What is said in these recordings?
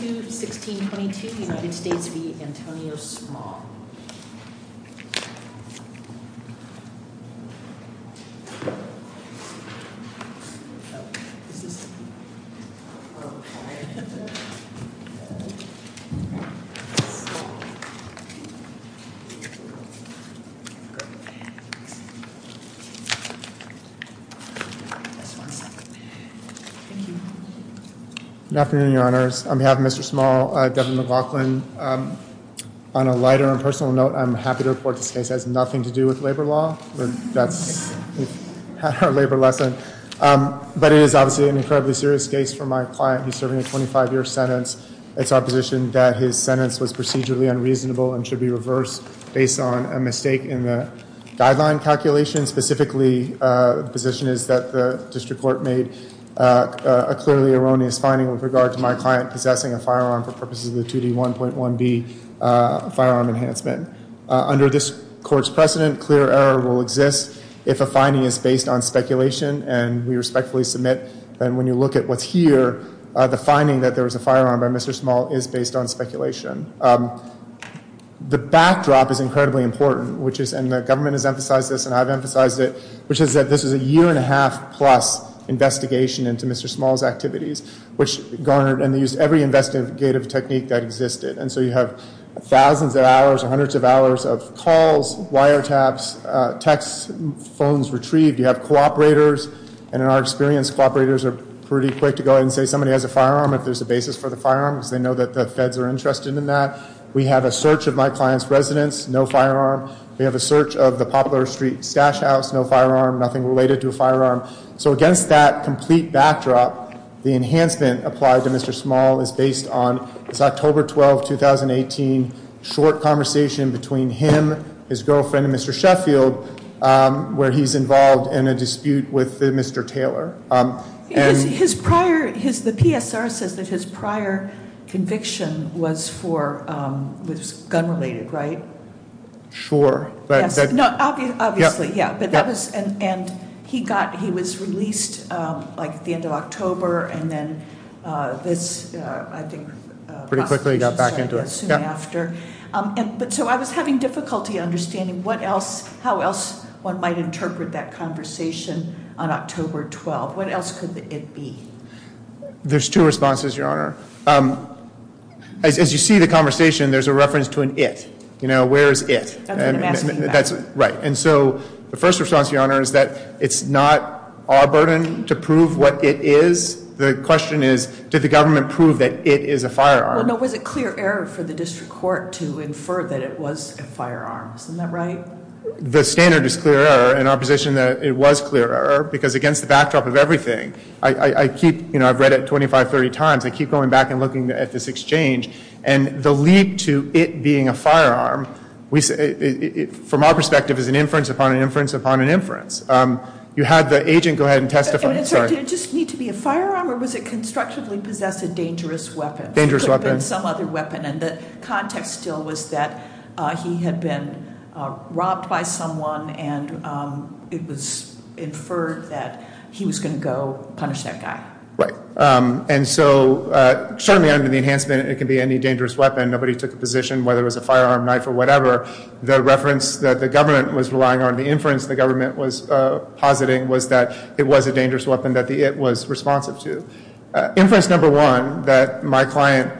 2-16-22 United States v. Antonio Small Good afternoon, Your Honors. On behalf of Mr. Small, Devin McLaughlin, on a lighter and personal note, I'm happy to report this case has nothing to do with labor law, that's our labor lesson, but it is obviously an incredibly serious case for my client who's serving a 25-year sentence. It's our position that his sentence was procedurally unreasonable and should be reversed based on a mistake in the guideline calculation. Specifically, the position is that the district court made a clearly erroneous finding with regard to my client possessing a firearm for purposes of the 2D1.1b firearm enhancement. Under this court's precedent, clear error will exist if a finding is based on speculation, and we respectfully submit that when you look at what's here, the finding that there was a firearm by Mr. Small is based on speculation. The backdrop is incredibly important, and the government has emphasized this and I've emphasized it, which is that this is a year-and-a-half-plus investigation into Mr. Small's activities, which garnered and used every investigative technique that existed. And so you have thousands of hours or hundreds of hours of calls, wiretaps, text, phones retrieved. You have cooperators, and in our experience, cooperators are pretty quick to go ahead and say somebody has a firearm if there's a basis for the firearm because they know that the feds are interested in that. We have a search of my client's residence, no firearm. We have a search of the Poplar Street stash house, no firearm, nothing related to a firearm. So against that complete backdrop, the enhancement applied to Mr. Small is based on this October 12, 2018, short conversation between him, his girlfriend, and Mr. Sheffield where he's involved in a dispute with Mr. Taylor. His prior, the PSR says that his prior conviction was for, was gun-related, right? Sure. No, obviously, yeah, but that was, and he got, he was released, like, at the end of October, and then this, I think, pretty quickly got back into it soon after. But so I was having difficulty understanding what else, how else one might interpret that conversation on October 12. What else could it be? There's two responses, Your Honor. As you see the conversation, there's a reference to an it, you know, where is it? That's what I'm asking about. Right. And so the first response, Your Honor, is that it's not our burden to prove what it is. The question is, did the government prove that it is a firearm? Well, no, was it clear error for the district court to infer that it was a firearm? Isn't that right? The standard is clear error in our position that it was clear error because against the backdrop of everything, I keep, you know, I've read it 25, 30 times. I keep going back and looking at this exchange, and the leap to it being a firearm, from our perspective, is an inference upon an inference upon an inference. You had the agent go ahead and testify. I'm sorry, did it just need to be a firearm, or was it constructively possessed a dangerous weapon? Dangerous weapon. Could have been some other weapon, and the context still was that he had been robbed by someone, and it was inferred that he was going to go punish that guy. Right. And so certainly under the enhancement, it could be any dangerous weapon. Nobody took a position whether it was a firearm, knife, or whatever. The reference that the government was relying on, the inference the government was positing, was that it was a dangerous weapon that the it was responsive to. Inference number one, that my client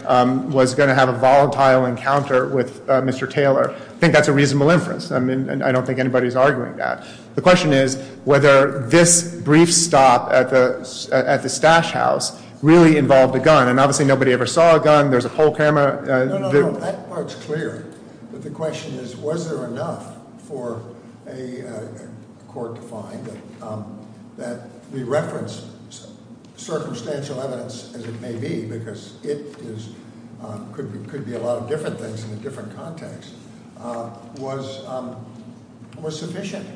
was going to have a volatile encounter with Mr. Taylor, I think that's a reasonable inference. I mean, I don't think anybody's arguing that. The question is whether this brief stop at the stash house really involved a gun. And obviously, nobody ever saw a gun. There's a pole camera. No, no, no. That part's clear. But the question is, was there enough for a court to find that the reference, circumstantial evidence as it may be, because it could be a lot of different things in a different context, was sufficient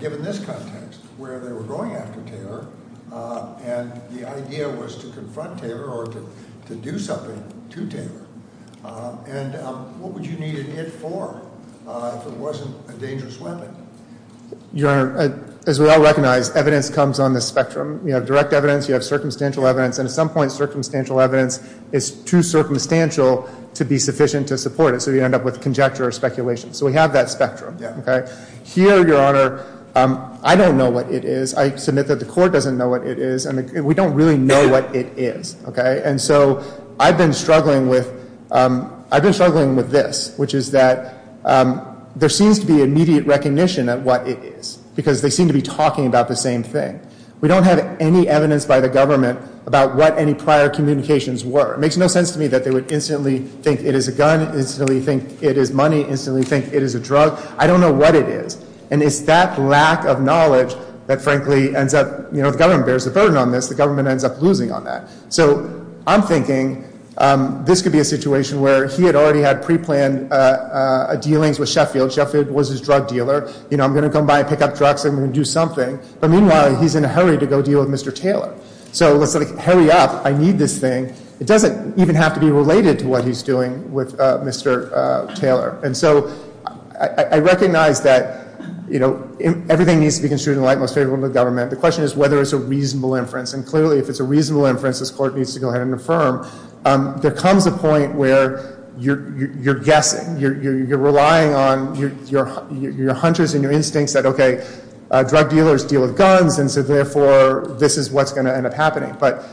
given this context, where they were going after Taylor, and the idea was to confront Taylor or to do something to Taylor? And what would you need an it for if it wasn't a dangerous weapon? Your Honor, as we all recognize, evidence comes on the spectrum. You have direct evidence. You have circumstantial evidence. And at some point, circumstantial evidence is too circumstantial to be sufficient to support it. So you end up with conjecture or speculation. So we have that spectrum. Here, Your Honor, I don't know what it is. I submit that the court doesn't know what it is. And we don't really know what it is. And so I've been struggling with this, which is that there seems to be immediate recognition of what it is, because they seem to be talking about the same thing. We don't have any evidence by the government about what any prior communications were. It makes no sense to me that they would instantly think it is a gun, instantly think it is money, instantly think it is a drug. I don't know what it is. And it's that lack of knowledge that, frankly, ends up, you know, the government bears the burden on this. The government ends up losing on that. So I'm thinking this could be a situation where he had already had preplanned dealings with Sheffield. Sheffield was his drug dealer. You know, I'm going to come by and pick up drugs. I'm going to do something. But meanwhile, he's in a hurry to go deal with Mr. Taylor. So let's hurry up. I need this thing. It doesn't even have to be related to what he's doing with Mr. Taylor. And so I recognize that, you know, everything needs to be construed in the light most favorable to the government. The question is whether it's a reasonable inference. And clearly, if it's a reasonable inference, this court needs to go ahead and affirm. There comes a point where you're guessing, you're relying on your hunters and your instincts that, okay, drug dealers deal with guns, and so, therefore, this is what's going to end up happening. But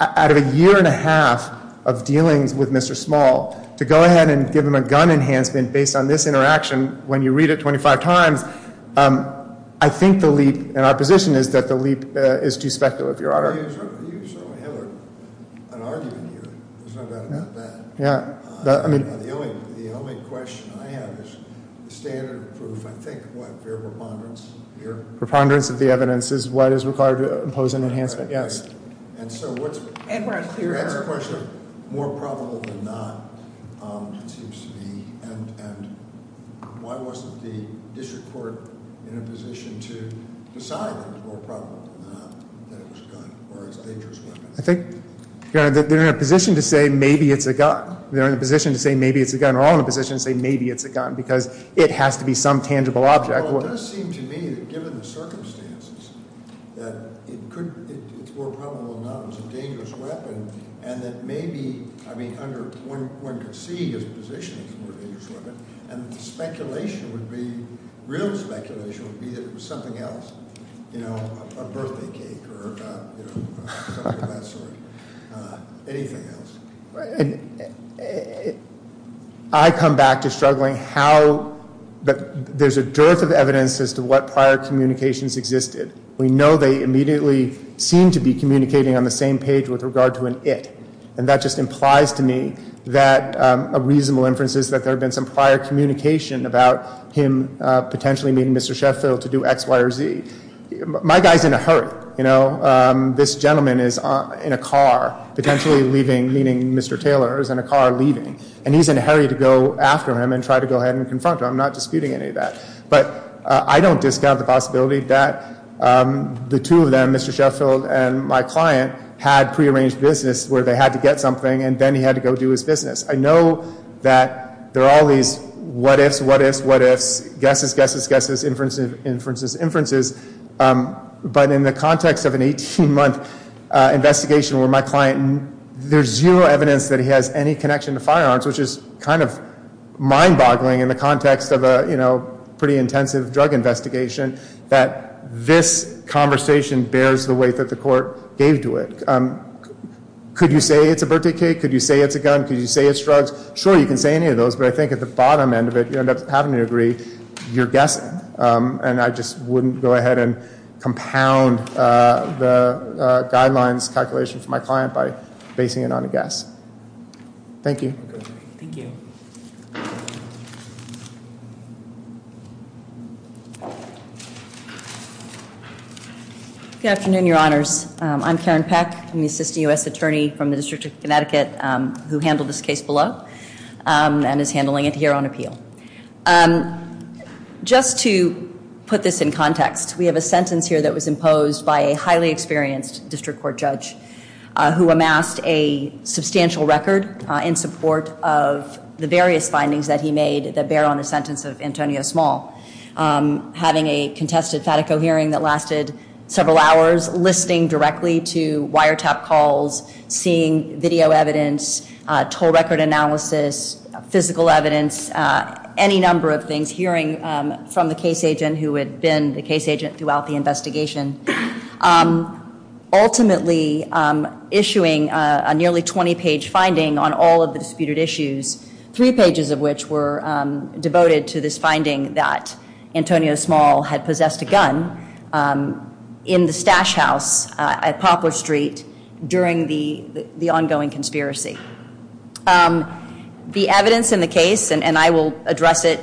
out of a year and a half of dealings with Mr. Small, to go ahead and give him a gun enhancement based on this interaction, when you read it 25 times, I think the leap in our position is that the leap is too speculative, Your Honor. You certainly have an argument here. There's no doubt about that. Yeah. The only question I have is standard proof. I think, what, fair preponderance here? Preponderance of the evidence is what is required to impose an enhancement, yes. And so that's a question of more probable than not, it seems to me. And why wasn't the district court in a position to decide that it was more probable than not that it was a gun or it's a dangerous weapon? I think, Your Honor, they're in a position to say maybe it's a gun. They're in a position to say maybe it's a gun. They're all in a position to say maybe it's a gun because it has to be some tangible object. Well, it does seem to me that given the circumstances, that it could, it's more probable than not it was a dangerous weapon, and that maybe, I mean, under, one could see his position as a dangerous weapon, and the speculation would be, real speculation would be that it was something else. You know, a birthday cake or something of that sort. Anything else? I come back to struggling how there's a dearth of evidence as to what prior communications existed. We know they immediately seem to be communicating on the same page with regard to an it, and that just implies to me that a reasonable inference is that there had been some prior communication about him potentially meeting Mr. Sheffield to do X, Y, or Z. My guy's in a hurry, you know. This gentleman is in a car, potentially leaving, meeting Mr. Taylor, is in a car leaving, and he's in a hurry to go after him and try to go ahead and confront him. I'm not disputing any of that. But I don't discount the possibility that the two of them, Mr. Sheffield and my client, had prearranged business where they had to get something, and then he had to go do his business. I know that there are all these what ifs, what ifs, what ifs, guesses, guesses, guesses, inferences, inferences, but in the context of an 18-month investigation where my client, there's zero evidence that he has any connection to firearms, which is kind of mind-boggling in the context of a pretty intensive drug investigation, that this conversation bears the weight that the court gave to it. Could you say it's a birthday cake? Could you say it's a gun? Could you say it's drugs? Sure, you can say any of those, but I think at the bottom end of it, you end up having to agree you're guessing, and I just wouldn't go ahead and compound the guidelines calculation for my client by basing it on a guess. Thank you. Thank you. Good afternoon, Your Honors. I'm Karen Peck. I'm the Assistant U.S. Attorney from the District of Connecticut who handled this case below and is handling it here on appeal. Just to put this in context, we have a sentence here that was imposed by a highly experienced district court judge who amassed a substantial record in support of the various findings that he made that bear on the sentence of Antonio Small. Having a contested FATICO hearing that lasted several hours, listening directly to wiretap calls, seeing video evidence, toll record analysis, physical evidence, any number of things, hearing from the case agent who had been the case agent throughout the investigation. Ultimately, issuing a nearly 20-page finding on all of the disputed issues, three pages of which were devoted to this finding that Antonio Small had possessed a gun in the stash house at Poplar Street during the ongoing conspiracy. The evidence in the case, and I will address it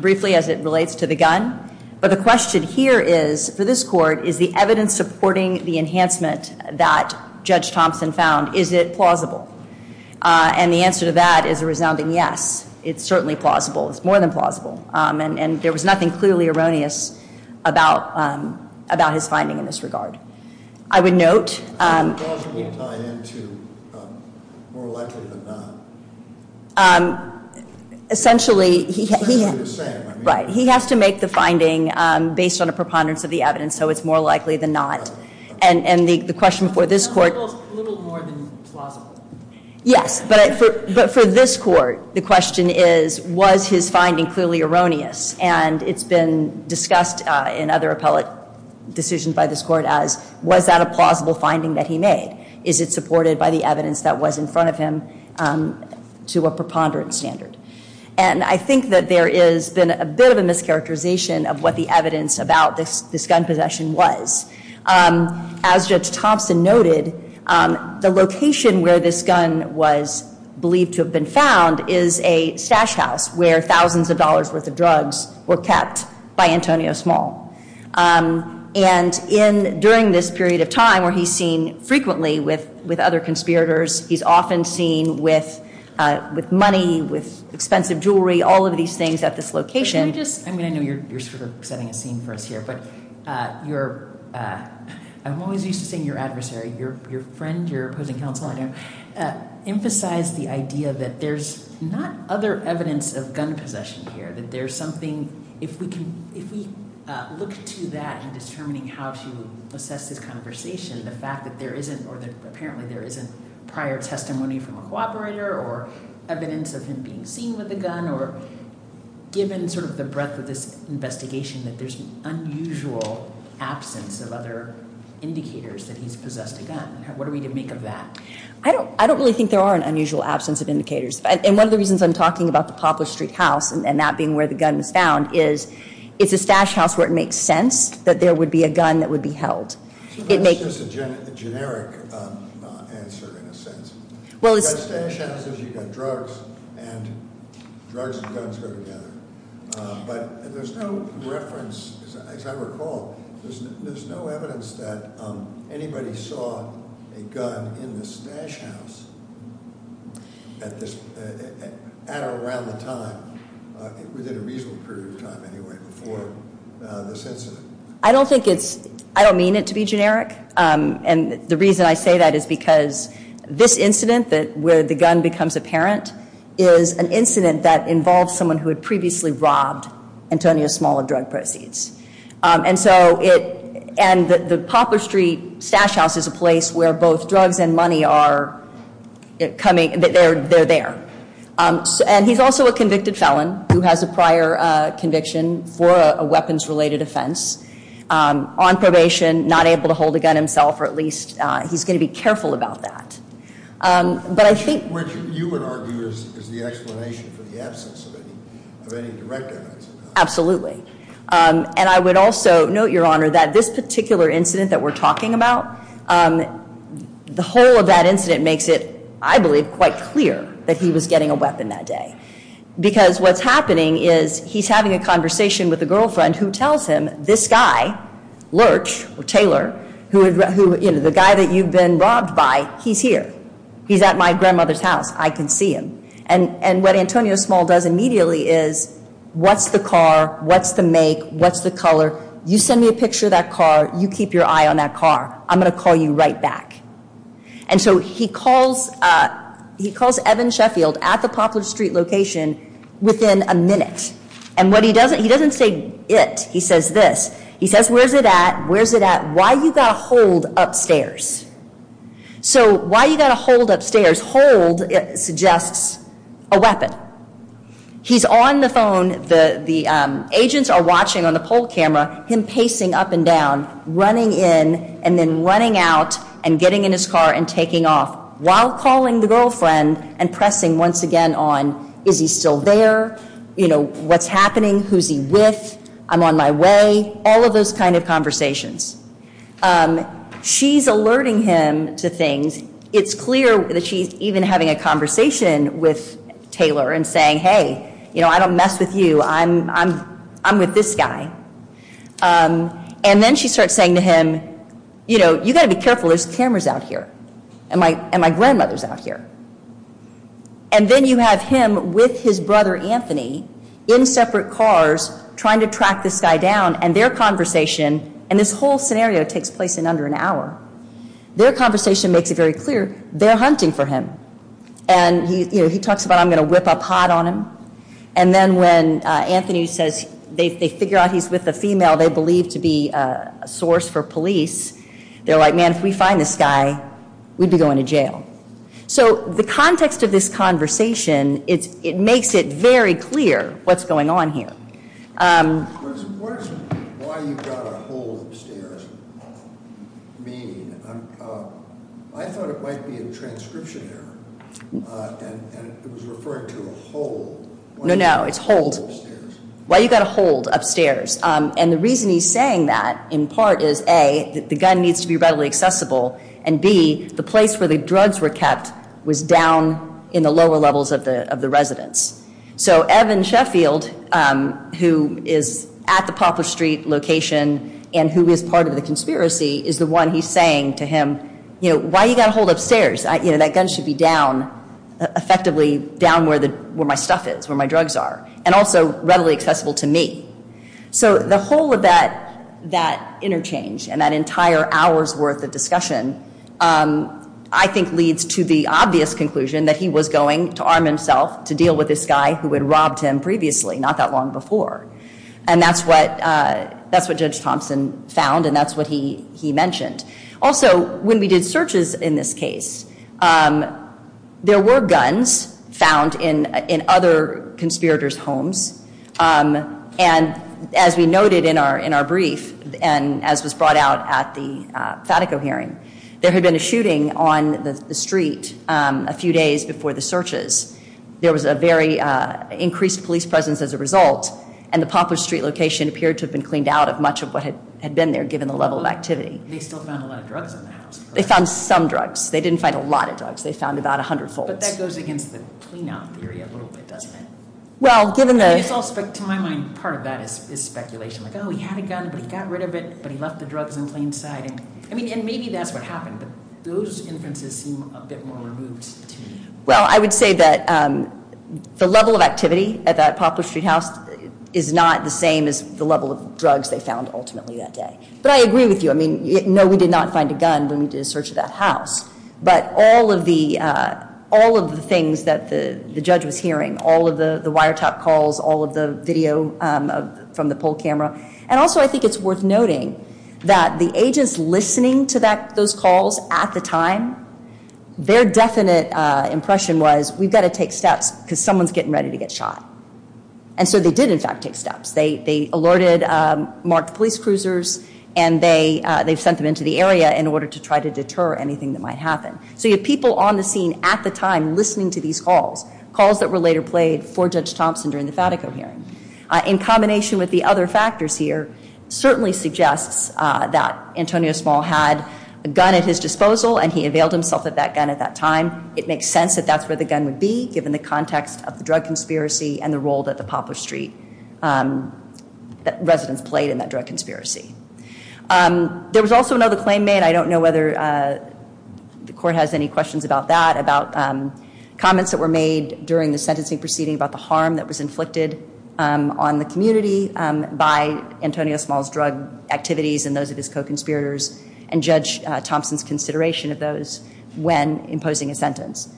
briefly as it relates to the gun, but the question here is, for this court, is the evidence supporting the enhancement that Judge Thompson found, is it plausible? And the answer to that is a resounding yes. It's certainly plausible. It's more than plausible. And there was nothing clearly erroneous about his finding in this regard. I would note... Right, he has to make the finding based on a preponderance of the evidence, so it's more likely than not. And the question for this court... Yes, but for this court, the question is, was his finding clearly erroneous? And it's been discussed in other appellate decisions by this court as, was that a plausible finding that he made? Is it supported by the evidence that was in front of him to a preponderance standard? And I think that there has been a bit of a mischaracterization of what the evidence about this gun possession was. As Judge Thompson noted, the location where this gun was believed to have been found is a stash house where thousands of dollars' worth of drugs were kept by Antonio Small. And during this period of time where he's seen frequently with other conspirators, he's often seen with money, with expensive jewelry, all of these things at this location. I know you're setting a scene for us here, but I'm always used to seeing your adversary, your friend, your opposing counsel, emphasize the idea that there's not other evidence of gun possession here, that there's something... If we look to that in determining how to assess this conversation, the fact that there isn't, or apparently there isn't, prior testimony from a cooperator, or evidence of him being seen with a gun, or given sort of the breadth of this investigation, that there's an unusual absence of other indicators that he's possessed a gun. What are we to make of that? I don't really think there are an unusual absence of indicators. And one of the reasons I'm talking about the Poplar Street house, and that being where the gun was found, is it's a stash house where it makes sense that there would be a gun that would be held. That's just a generic answer, in a sense. You've got stash houses, you've got drugs, and drugs and guns go together. But there's no reference, as I recall, there's no evidence that anybody saw a gun in the stash house at or around the time, within a reasonable period of time, anyway, before this incident. I don't think it's, I don't mean it to be generic. And the reason I say that is because this incident, where the gun becomes apparent, is an incident that involved someone who had previously robbed Antonio Small of drug proceeds. And so it, and the Poplar Street stash house is a place where both drugs and money are coming, they're there. And he's also a convicted felon who has a prior conviction for a weapons related offense. On probation, not able to hold a gun himself, or at least he's going to be careful about that. But I think- Which you would argue is the explanation for the absence of any direct evidence. Absolutely. And I would also note, Your Honor, that this particular incident that we're talking about, the whole of that incident makes it, I believe, quite clear that he was getting a weapon that day. Because what's happening is he's having a conversation with a girlfriend who tells him, this guy, Lurch, or Taylor, who, you know, the guy that you've been robbed by, he's here. He's at my grandmother's house. I can see him. And what Antonio Small does immediately is, what's the car? What's the make? What's the color? You send me a picture of that car. You keep your eye on that car. I'm going to call you right back. And so he calls Evan Sheffield at the Poplar Street location within a minute. And what he doesn't, he doesn't say it. He says this. He says, where's it at? Where's it at? Why you got to hold upstairs? So why you got to hold upstairs? Hold suggests a weapon. He's on the phone. The agents are watching on the poll camera him pacing up and down, running in and then running out and getting in his car and taking off while calling the girlfriend and pressing once again on, is he still there? You know, what's happening? Who's he with? I'm on my way. All of those kind of conversations. She's alerting him to things. It's clear that she's even having a conversation with Taylor and saying, hey, you know, I don't mess with you. I'm with this guy. And then she starts saying to him, you know, you got to be careful. There's cameras out here. And my grandmother's out here. And then you have him with his brother Anthony in separate cars trying to track this guy down, and their conversation, and this whole scenario takes place in under an hour. Their conversation makes it very clear they're hunting for him. And, you know, he talks about I'm going to whip a pot on him. And then when Anthony says they figure out he's with a female they believe to be a source for police, they're like, man, if we find this guy, we'd be going to jail. So the context of this conversation, it makes it very clear what's going on here. What does why you've got a hold upstairs mean? I thought it might be a transcription error, and it was referring to a hold. No, no, it's hold. Why you've got a hold upstairs. And the reason he's saying that in part is, A, the gun needs to be readily accessible, and, B, the place where the drugs were kept was down in the lower levels of the residence. So Evan Sheffield, who is at the Poplar Street location and who is part of the conspiracy, is the one he's saying to him, you know, why you've got a hold upstairs? You know, that gun should be down, effectively down where my stuff is, where my drugs are, and also readily accessible to me. So the whole of that interchange and that entire hour's worth of discussion, I think leads to the obvious conclusion that he was going to arm himself to deal with this guy who had robbed him previously, not that long before. And that's what Judge Thompson found, and that's what he mentioned. Also, when we did searches in this case, there were guns found in other conspirators' homes, and as we noted in our brief and as was brought out at the Fatico hearing, there had been a shooting on the street a few days before the searches. There was a very increased police presence as a result, and the Poplar Street location appeared to have been cleaned out of much of what had been there, given the level of activity. They still found a lot of drugs in the house. They found some drugs. They didn't find a lot of drugs. They found about 100-folds. But that goes against the clean-out theory a little bit, doesn't it? To my mind, part of that is speculation. Like, oh, he had a gun, but he got rid of it, but he left the drugs in plain sight. I mean, and maybe that's what happened, but those inferences seem a bit more removed to me. Well, I would say that the level of activity at that Poplar Street house is not the same as the level of drugs they found ultimately that day. But I agree with you. I mean, no, we did not find a gun when we did a search of that house, but all of the things that the judge was hearing, all of the wiretap calls, all of the video from the poll camera, and also I think it's worth noting that the agents listening to those calls at the time, their definite impression was we've got to take steps because someone's getting ready to get shot. And so they did, in fact, take steps. They alerted marked police cruisers, and they sent them into the area in order to try to deter anything that might happen. So you have people on the scene at the time listening to these calls, calls that were later played for Judge Thompson during the Fatico hearing. In combination with the other factors here, certainly suggests that Antonio Small had a gun at his disposal, and he availed himself of that gun at that time. It makes sense that that's where the gun would be, given the context of the drug conspiracy and the role that the Poplar Street residents played in that drug conspiracy. There was also another claim made. I don't know whether the court has any questions about that, about comments that were made during the sentencing proceeding about the harm that was inflicted on the community by Antonio Small's drug activities and those of his co-conspirators, and Judge Thompson's consideration of those when imposing a sentence.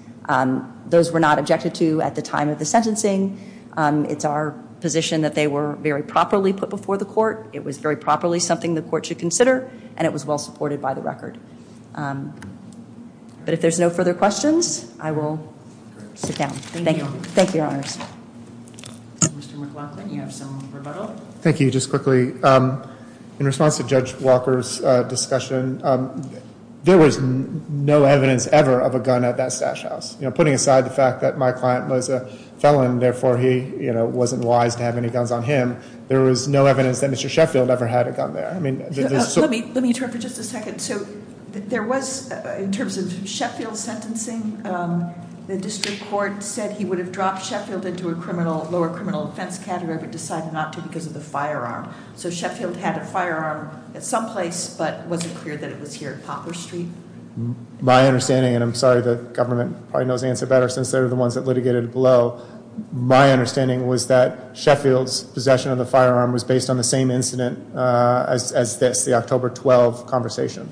Those were not objected to at the time of the sentencing. It's our position that they were very properly put before the court. It was very properly something the court should consider, and it was well supported by the record. But if there's no further questions, I will sit down. Thank you, Your Honors. Mr. McLaughlin, you have some rebuttal. Thank you. Just quickly, in response to Judge Walker's discussion, there was no evidence ever of a gun at that stash house. Putting aside the fact that my client was a felon, therefore he wasn't wise to have any guns on him, there was no evidence that Mr. Sheffield ever had a gun there. Let me interrupt for just a second. So there was, in terms of Sheffield's sentencing, the district court said he would have dropped Sheffield into a lower criminal offense category but decided not to because of the firearm. So Sheffield had a firearm at some place but wasn't clear that it was here at Poplar Street? My understanding, and I'm sorry the government probably knows the answer better since they're the ones that litigated it below, my understanding was that Sheffield's possession of the firearm was based on the same incident as this, the October 12 conversation.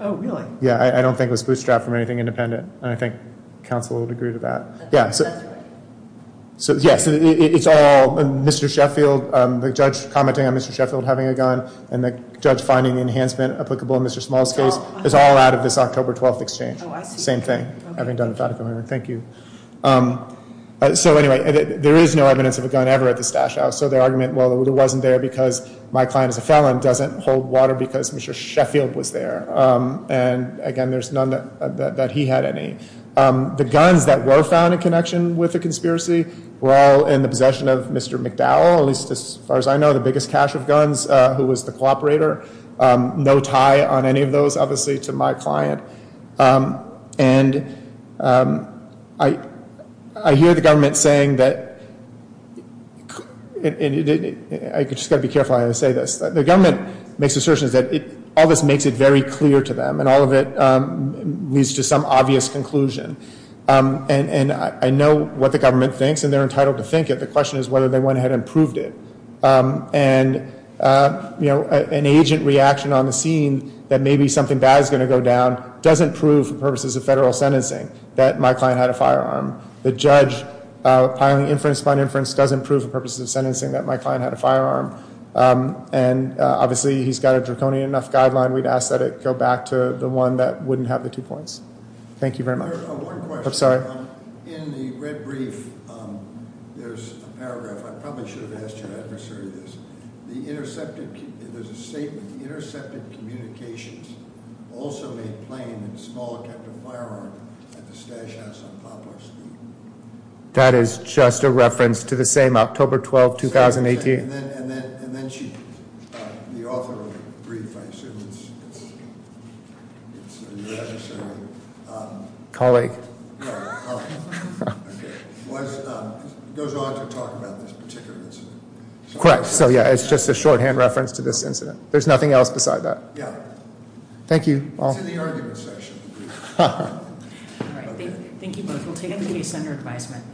Oh, really? Yeah, I don't think it was bootstrapped from anything independent, and I think counsel would agree to that. That's right. So yes, it's all Mr. Sheffield, the judge commenting on Mr. Sheffield having a gun and the judge finding the enhancement applicable in Mr. Small's case, it's all out of this October 12 exchange. Oh, I see. Same thing. Thank you. So anyway, there is no evidence of a gun ever at the stash house, so their argument, well, it wasn't there because my client is a felon doesn't hold water because Mr. Sheffield was there. And again, there's none that he had any. The guns that were found in connection with the conspiracy were all in the possession of Mr. McDowell, at least as far as I know, the biggest cache of guns, who was the cooperator. No tie on any of those, obviously, to my client. And I hear the government saying that, and I've just got to be careful how I say this, the government makes assertions that all this makes it very clear to them and all of it leads to some obvious conclusion. And I know what the government thinks, and they're entitled to think it. The question is whether they went ahead and proved it. And, you know, an agent reaction on the scene that maybe something bad is going to go down doesn't prove for purposes of federal sentencing that my client had a firearm. The judge, piling inference upon inference, doesn't prove for purposes of sentencing that my client had a firearm. And, obviously, he's got a draconian enough guideline. We'd ask that it go back to the one that wouldn't have the two points. Thank you very much. One question. I'm sorry. In the red brief, there's a paragraph. I probably should have asked your adversary this. There's a statement, the intercepted communications also made plain that Small had kept a firearm at the stash house on Poplar Street. That is just a reference to the same October 12, 2018. And then she, the author of the brief, I assume it's your adversary. Colleague. No, colleague. Okay. It goes on to talk about this particular incident. Correct. So, yeah, it's just a shorthand reference to this incident. There's nothing else beside that. Yeah. Thank you. It's in the argument section of the brief. All right. Thank you both. We'll take up the case under advisement.